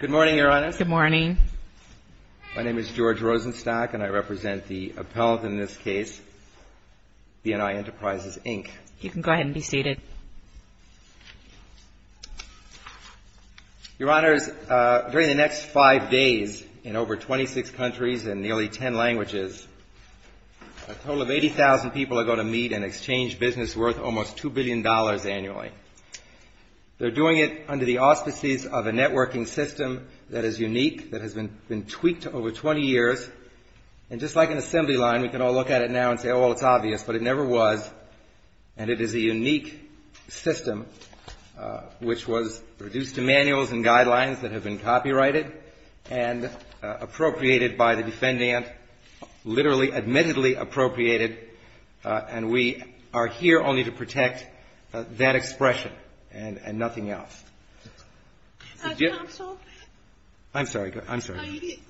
Good morning, Your Honors. Good morning. My name is George Rosenstock, and I represent the appellant in this case, BNI Enterprises, Inc. You can go ahead and be seated. Your Honors, during the next five days, in over 26 countries and nearly 10 languages, a total of 80,000 people are going to meet and exchange business worth almost $2 billion annually. They're doing it under the auspices of a networking system that is unique, that has been tweaked over 20 years, and just like an assembly line, we can all look at it now and say, oh, well, it's obvious, but it never was. And it is a unique system which was reduced to manuals and guidelines that have been copyrighted and appropriated by the defendant, literally, admittedly appropriated, and we are here only to protect that expression and nothing else. Counsel? I'm sorry, I'm sorry.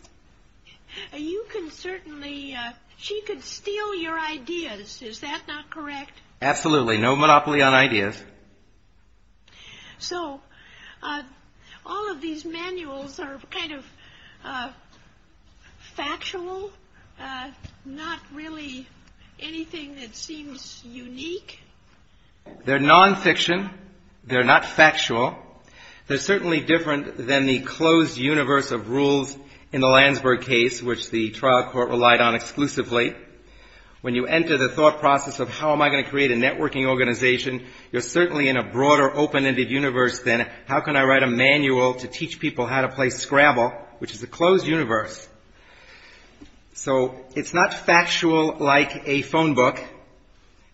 You can certainly, she could steal your ideas, is that not correct? Absolutely, no monopoly on ideas. So all of these manuals are kind of factual, not really anything that seems unique? They're nonfiction. They're not factual. They're certainly different than the closed universe of rules in the Landsberg case, which the trial court relied on exclusively. When you enter the thought process of how am I going to create a networking organization, you're certainly in a broader open-ended universe than how can I write a manual to teach people how to play Scrabble, which is a closed universe. So it's not factual like a phone book.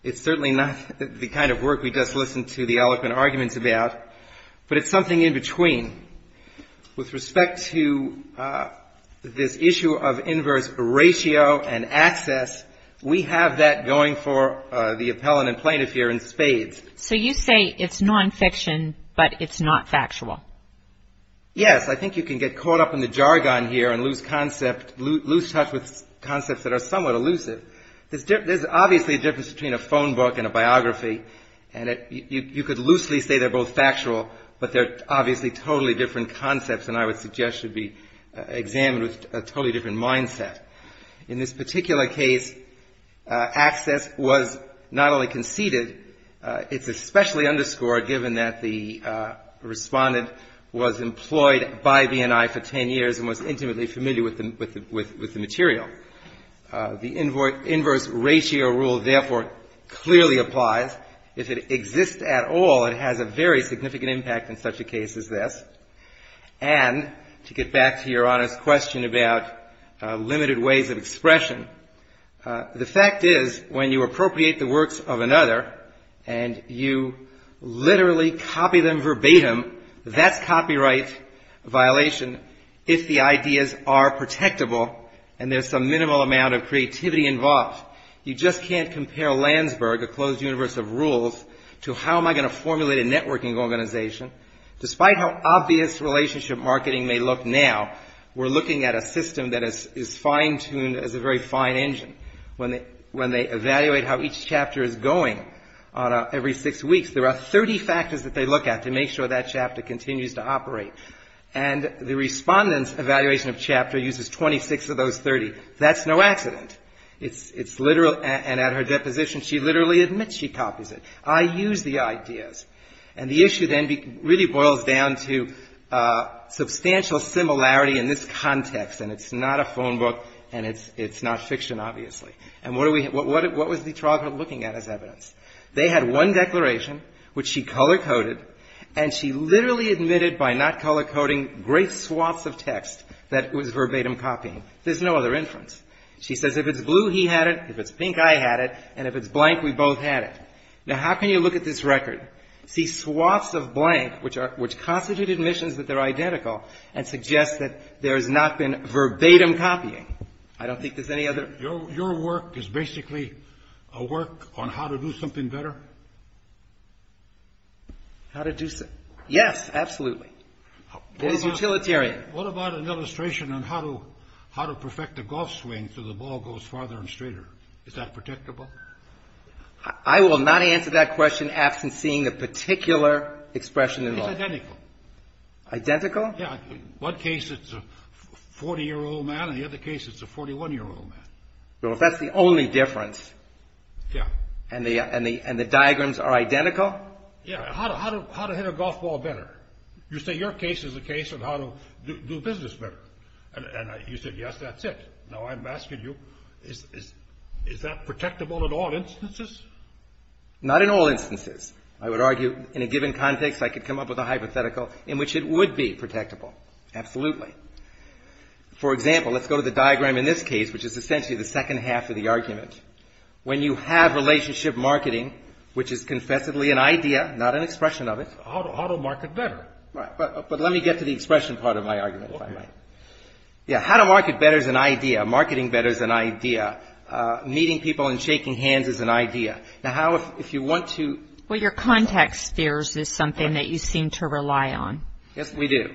It's certainly not the kind of work we just listen to the eloquent arguments about, but it's something in between. With respect to this issue of inverse ratio and access, we have that going for the appellant and plaintiff here in spades. So you say it's nonfiction, but it's not factual. Yes, I think you can get caught up in the jargon here and lose concept, lose touch with concepts that are somewhat elusive. There's obviously a difference between a phone book and a biography, and you could loosely say they're both factual, but they're obviously totally different concepts and I would suggest should be examined with a totally different mindset. In this particular case, access was not only conceded, it's especially underscored given that the respondent was employed by B&I for ten years and was intimately familiar with the material. The inverse ratio rule therefore clearly applies. If it exists at all, it has a very significant impact in such a case as this. And to get back to your honest question about limited ways of expression, the fact is when you appropriate the works of another and you literally copy them verbatim, that's copyright violation if the ideas are protectable and there's some minimal amount of creativity involved. You just can't compare Landsberg, a closed universe of rules, to how am I going to formulate a networking organization, despite how obvious relationship marketing may look now. We're looking at a system that is fine-tuned as a very fine engine. When they evaluate how each chapter is going on every six weeks, there are 30 factors that they look at to make sure that chapter continues to operate. And the respondent's evaluation of chapter uses 26 of those 30. That's no accident. It's literal and at her deposition she literally admits she copies it. I use the ideas. And the issue then really boils down to substantial similarity in this context, and it's not a phone book and it's not fiction, obviously. And what was the trial court looking at as evidence? They had one declaration, which she color-coded, and she literally admitted by not color-coding great swaths of text that it was verbatim copying. There's no other inference. She says if it's blue, he had it. If it's pink, I had it. And if it's blank, we both had it. Now, how can you look at this record, see swaths of blank, which constitute admissions that they're identical, and suggest that there has not been verbatim copying? I don't think there's any other. Your work is basically a work on how to do something better? Yes, absolutely. It is utilitarian. What about an illustration on how to perfect a golf swing so the ball goes farther and straighter? Is that protectable? I will not answer that question absent seeing a particular expression in law. It's identical. Identical? Yeah. In one case, it's a 40-year-old man. In the other case, it's a 41-year-old man. Well, if that's the only difference and the diagrams are identical? Yeah. How to hit a golf ball better? You say your case is a case of how to do business better. And you said, yes, that's it. Now, I'm asking you, is that protectable in all instances? Not in all instances. I would argue in a given context, I could come up with a hypothetical in which it would be protectable. Absolutely. For example, let's go to the diagram in this case, which is essentially the second half of the argument. When you have relationship marketing, which is confessively an idea, not an expression of it. How to market better? But let me get to the expression part of my argument, if I might. Yeah. How to market better is an idea. Marketing better is an idea. Meeting people and shaking hands is an idea. Now, how if you want to? Well, your context spheres is something that you seem to rely on. Yes, we do.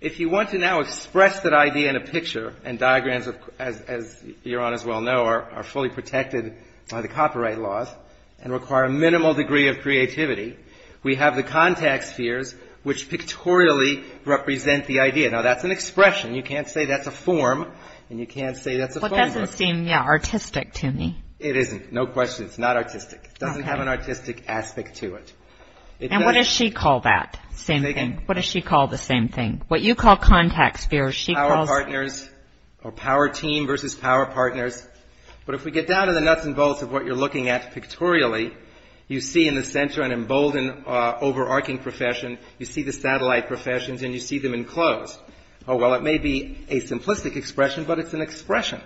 If you want to now express that idea in a picture, and diagrams, as Your Honors well know, are fully protected by the copyright laws and require a minimal degree of creativity, we have the context spheres, which pictorially represent the idea. Now, that's an expression. You can't say that's a form, and you can't say that's a phrase. It doesn't seem, yeah, artistic to me. It isn't. No question. It's not artistic. It doesn't have an artistic aspect to it. And what does she call that? Same thing. What does she call the same thing? What you call context spheres, she calls? Power partners, or power team versus power partners. But if we get down to the nuts and bolts of what you're looking at pictorially, you see in the center an emboldened, overarching profession. You see the satellite professions, and you see them in close. Oh, well, it may be a simplistic expression, but it's an expression.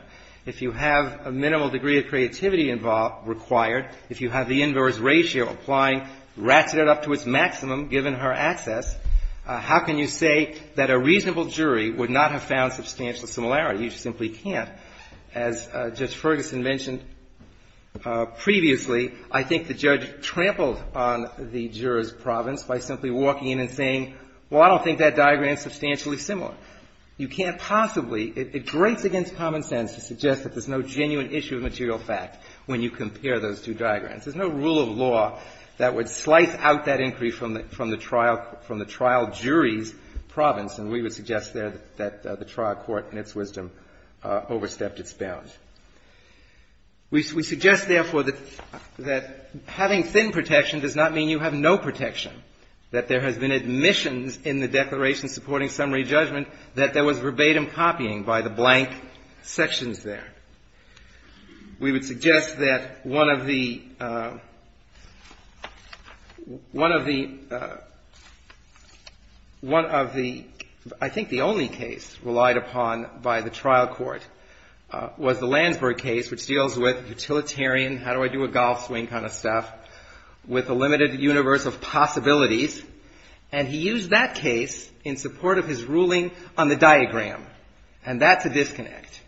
If you have a minimal degree of creativity required, if you have the inverse ratio applying, ratchet it up to its maximum, given her access, how can you say that a reasonable jury would not have found substantial similarity? You simply can't. As Judge Ferguson mentioned previously, I think the judge trampled on the juror's province by simply walking in and saying, well, I don't think that diagram is substantially similar. You can't possibly. It grates against common sense to suggest that there's no genuine issue of material fact when you compare those two diagrams. There's no rule of law that would slice out that inquiry from the trial jury's province, and we would suggest there that the trial court, in its wisdom, overstepped its bounds. We suggest, therefore, that having thin protection does not mean you have no protection, that there has been admissions in the declaration supporting summary judgment that there was verbatim copying by the blank sections there. We would suggest that one of the one of the one of the I think the only case relied upon by the trial court was the Landsberg case, which deals with utilitarian, how do I do a golf swing kind of stuff, with a limited universe of possibilities. And he used that case in support of his ruling on the diagram. And that's a disconnect,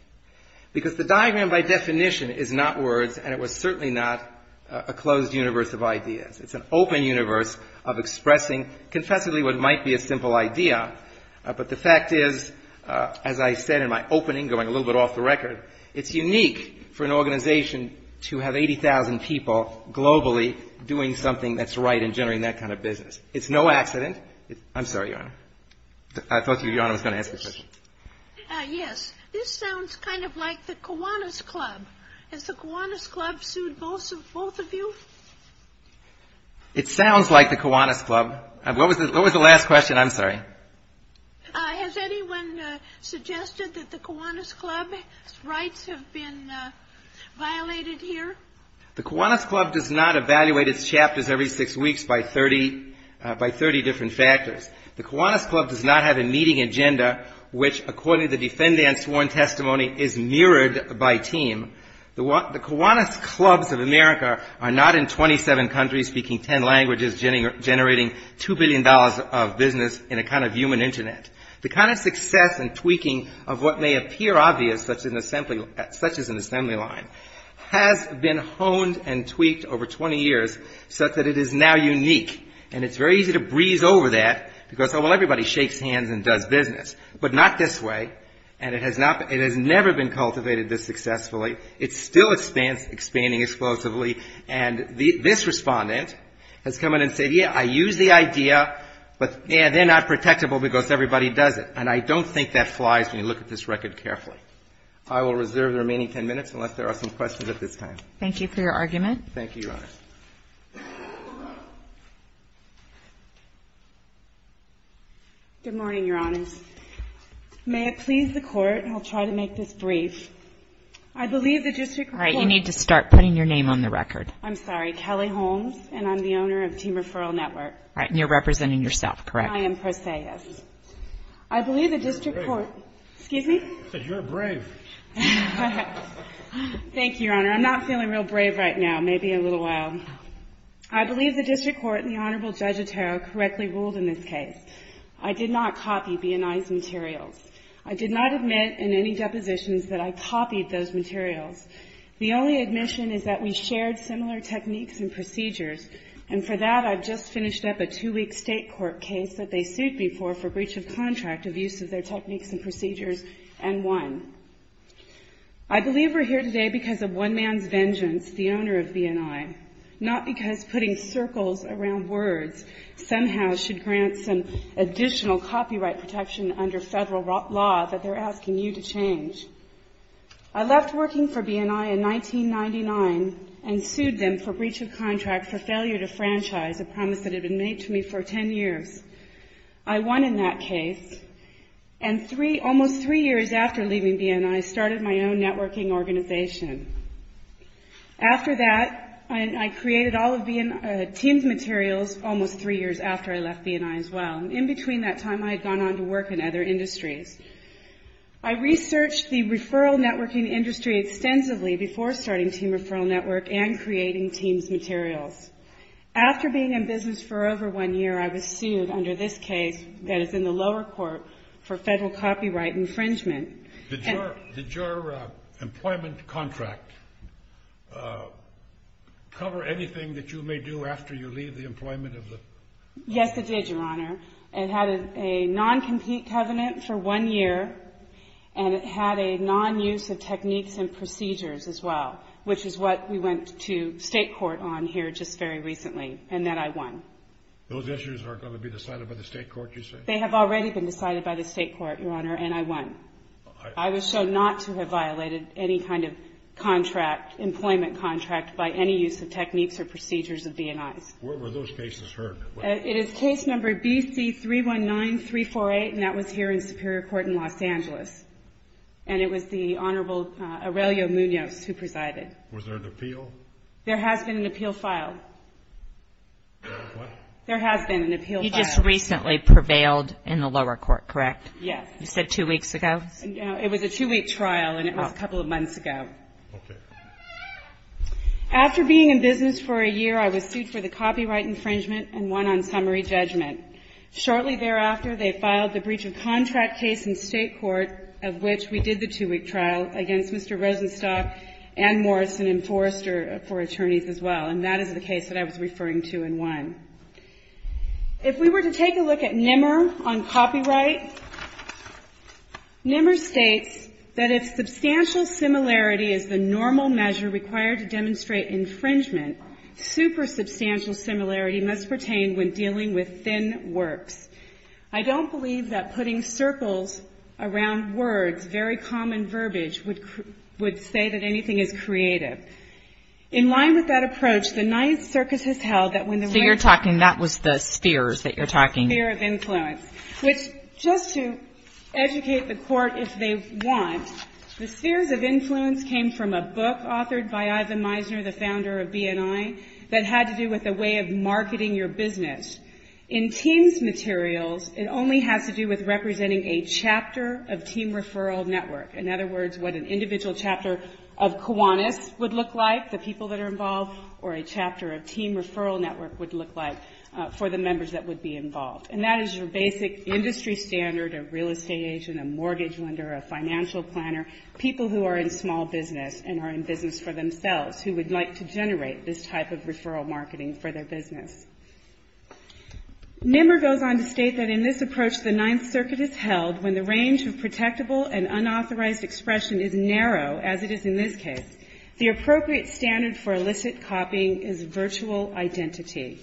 because the diagram by definition is not words, and it was certainly not a closed universe of ideas. It's an open universe of expressing confessively what might be a simple idea. But the fact is, as I said in my opening, going a little bit off the record, it's unique for an organization to have 80,000 people globally doing something that's right and generating that kind of business. It's no accident. I'm sorry, Your Honor. I thought Your Honor was going to ask a question. Yes. This sounds kind of like the Kiwanis Club. Has the Kiwanis Club sued both of you? It sounds like the Kiwanis Club. What was the last question? I'm sorry. Has anyone suggested that the Kiwanis Club's rights have been violated here? The Kiwanis Club does not evaluate its chapters every six weeks by 30 different factors. The Kiwanis Club does not have a meeting agenda, which according to the defendant's sworn testimony is mirrored by team. The Kiwanis Clubs of America are not in 27 countries, generating $2 billion of business in a kind of human internet. The kind of success and tweaking of what may appear obvious, such as an assembly line, has been honed and tweaked over 20 years such that it is now unique. And it's very easy to breeze over that because, oh, well, everybody shakes hands and does business. But not this way, and it has never been cultivated this successfully. It's still expanding explosively. And this Respondent has come in and said, yeah, I use the idea, but, yeah, they're not protectable because everybody does it. And I don't think that flies when you look at this record carefully. I will reserve the remaining ten minutes unless there are some questions at this time. Thank you for your argument. Thank you, Your Honor. Good morning, Your Honors. May it please the Court, and I'll try to make this brief. I believe the district court All right, you need to start putting your name on the record. I'm sorry, Kelly Holmes, and I'm the owner of Team Referral Network. All right, and you're representing yourself, correct? I am per se, yes. I believe the district court You're brave. Excuse me? I said you're brave. Thank you, Your Honor. I'm not feeling real brave right now, maybe in a little while. I believe the district court and the Honorable Judge Otero correctly ruled in this case. I did not copy B&I's materials. I did not admit in any depositions that I copied those materials. The only admission is that we shared similar techniques and procedures, and for that I've just finished up a two-week state court case that they sued me for for breach of contract of use of their techniques and procedures and won. I believe we're here today because of one man's vengeance, the owner of B&I, not because putting circles around words somehow should grant some additional copyright protection under federal law that they're asking you to change. I left working for B&I in 1999 and sued them for breach of contract for failure to franchise, a promise that had been made to me for ten years. I won in that case, and almost three years after leaving B&I, I started my own networking organization. After that, I created all of Team's materials almost three years after I left B&I as well. In between that time, I had gone on to work in other industries. I researched the referral networking industry extensively before starting Team Referral Network and creating Team's materials. After being in business for over one year, I was sued under this case that is in the lower court for federal copyright infringement. Did your employment contract cover anything that you may do after you leave the employment? Yes, it did, Your Honor. It had a non-compete covenant for one year, and it had a non-use of techniques and procedures as well, which is what we went to state court on here just very recently, and that I won. Those issues aren't going to be decided by the state court, you say? They have already been decided by the state court, Your Honor, and I won. I was shown not to have violated any kind of employment contract by any use of techniques or procedures of B&I's. Where were those cases heard? It is case number BC319348, and that was here in Superior Court in Los Angeles, and it was the Honorable Aurelio Munoz who presided. Was there an appeal? There has been an appeal filed. What? There has been an appeal filed. You just recently prevailed in the lower court, correct? Yes. You said two weeks ago? It was a two-week trial, and it was a couple of months ago. Okay. After being in business for a year, I was sued for the copyright infringement and won on summary judgment. Shortly thereafter, they filed the breach of contract case in state court, of which we did the two-week trial, against Mr. Rosenstock and Morrison and Forrester, four attorneys as well, and that is the case that I was referring to in one. If we were to take a look at NMR on copyright, NMR states that if substantial similarity is the normal measure required to demonstrate infringement, super substantial similarity must pertain when dealing with thin works. I don't believe that putting circles around words, very common verbiage, would say that anything is creative. In line with that approach, the Ninth Circus has held that when the rights are held. So you're talking, that was the spheres that you're talking. The spheres of influence, which just to educate the court if they want, the spheres of influence came from a book authored by Ivan Meisner, the founder of BNI, that had to do with a way of marketing your business. In TEAMS materials, it only has to do with representing a chapter of TEAM referral network. In other words, what an individual chapter of Kiwanis would look like, the people that are involved, or a chapter of TEAM referral network would look like for the members that would be involved. And that is your basic industry standard, a real estate agent, a mortgage lender, a financial planner, people who are in small business and are in business for themselves who would like to generate this type of referral marketing for their business. NMR goes on to state that in this approach, the Ninth Circuit has held when the range of protectable and unauthorized expression is narrow, as it is in this case, the appropriate standard for illicit copying is virtual identity.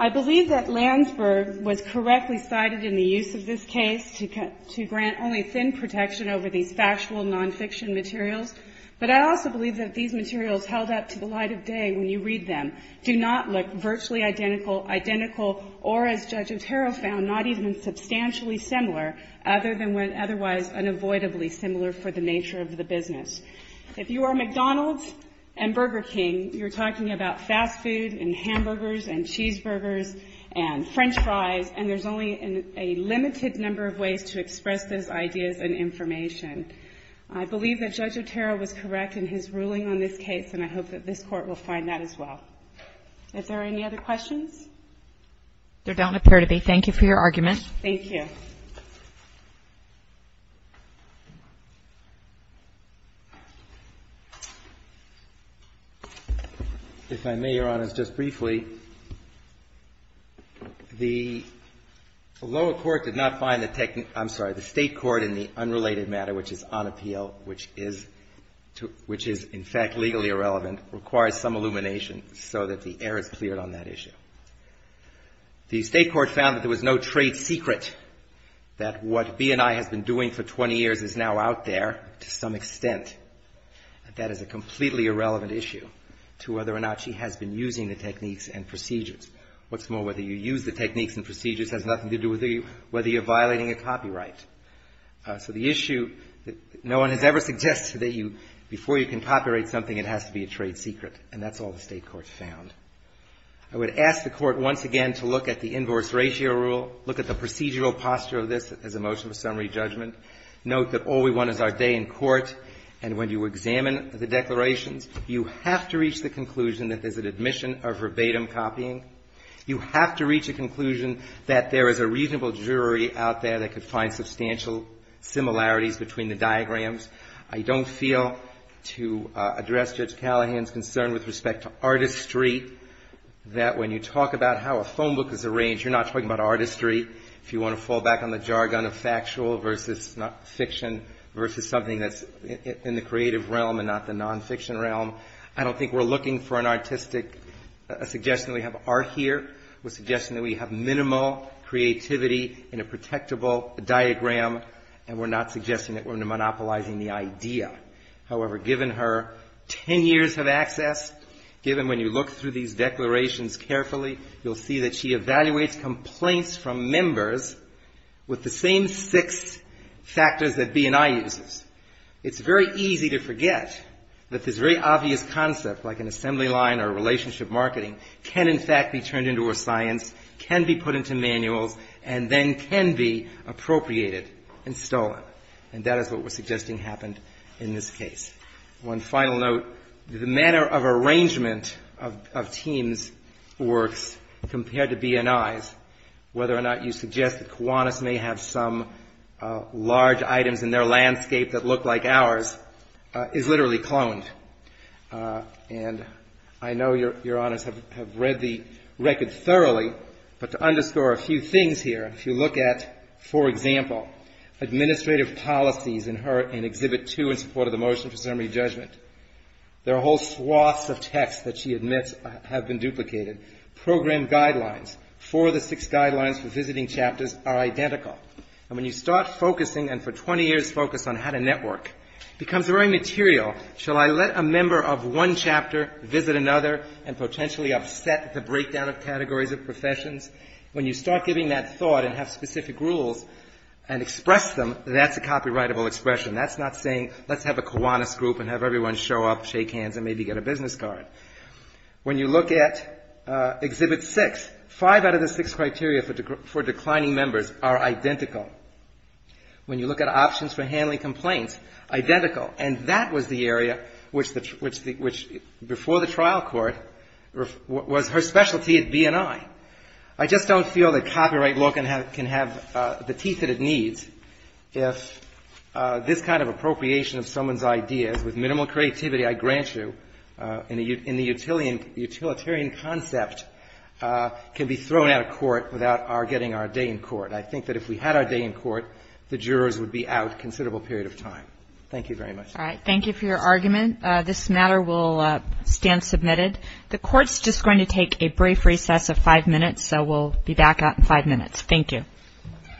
I believe that Landsberg was correctly cited in the use of this case to grant only thin protection over these factual nonfiction materials, but I also believe that these materials held up to the light of day when you read them, do not look virtually identical, or as Judge Otero found, not even substantially similar, other than when otherwise unavoidably similar for the nature of the business. If you are McDonald's and Burger King, you're talking about fast food and hamburgers and cheeseburgers and french fries, and there's only a limited number of ways to express those ideas and information. I believe that Judge Otero was correct in his ruling on this case, and I hope that this Court will find that as well. Is there any other questions? There don't appear to be. Thank you for your argument. Thank you. If I may, Your Honors, just briefly, the lower court did not find the technique – I'm sorry, the State court in the unrelated matter, which is on appeal, which is in fact legally irrelevant, requires some illumination so that the air is cleared on that issue. The State court found that there was no trade secret, that what B&I has been doing for 20 years is now out there to some extent. That is a completely irrelevant issue to whether or not she has been using the techniques and procedures. What's more, whether you use the techniques and procedures has nothing to do with whether you're violating a copyright. So the issue, no one has ever suggested that before you can copyright something, it has to be a trade secret, and that's all the State court found. I would ask the court once again to look at the Inverse Ratio Rule, look at the procedural posture of this as a motion for summary judgment, note that all we want is our day in court, and when you examine the declarations, you have to reach the conclusion that there's an admission of verbatim copying. You have to reach a conclusion that there is a reasonable jury out there that could find substantial similarities between the diagrams. I don't feel, to address Judge Callahan's concern with respect to artistry, that when you talk about how a phone book is arranged, you're not talking about artistry. If you want to fall back on the jargon of factual versus fiction, versus something that's in the creative realm and not the nonfiction realm, I don't think we're looking for an artistic suggestion that we have art here. We're suggesting that we have minimal creativity in a protectable diagram, and we're not suggesting that we're monopolizing the idea. However, given her ten years of access, given when you look through these declarations carefully, you'll see that she evaluates complaints from members with the same six factors that B&I uses. It's very easy to forget that this very obvious concept, like an assembly line or relationship marketing, can in fact be turned into a science, can be put into manuals, and then can be appropriated and stolen. And that is what we're suggesting happened in this case. One final note. The manner of arrangement of Teem's works compared to B&I's, whether or not you suggest that Kiwanis may have some large items in their landscape that look like ours, is literally cloned. And I know Your Honors have read the record thoroughly, but to underscore a few things here, if you look at, for example, administrative policies in Exhibit 2 in support of the motion for summary judgment, there are whole swaths of texts that she admits have been duplicated. Program guidelines for the six guidelines for visiting chapters are identical. And when you start focusing, and for 20 years focus on how to network, it becomes very material. Shall I let a member of one chapter visit another and potentially upset the breakdown of categories of professions? When you start giving that thought and have specific rules and express them, that's a copyrightable expression. That's not saying let's have a Kiwanis group and have everyone show up, shake hands, and maybe get a business card. When you look at Exhibit 6, five out of the six criteria for declining members are identical. When you look at options for handling complaints, identical. And that was the area which before the trial court was her specialty at B&I. I just don't feel that copyright law can have the teeth that it needs if this kind of appropriation of someone's ideas with minimal creativity, I grant you, in the utilitarian concept can be thrown out of court without our getting our day in court. I think that if we had our day in court, the jurors would be out a considerable period of time. Thank you very much. All right. Thank you for your argument. This matter will stand submitted. The court's just going to take a brief recess of five minutes, so we'll be back out in five minutes. Thank you.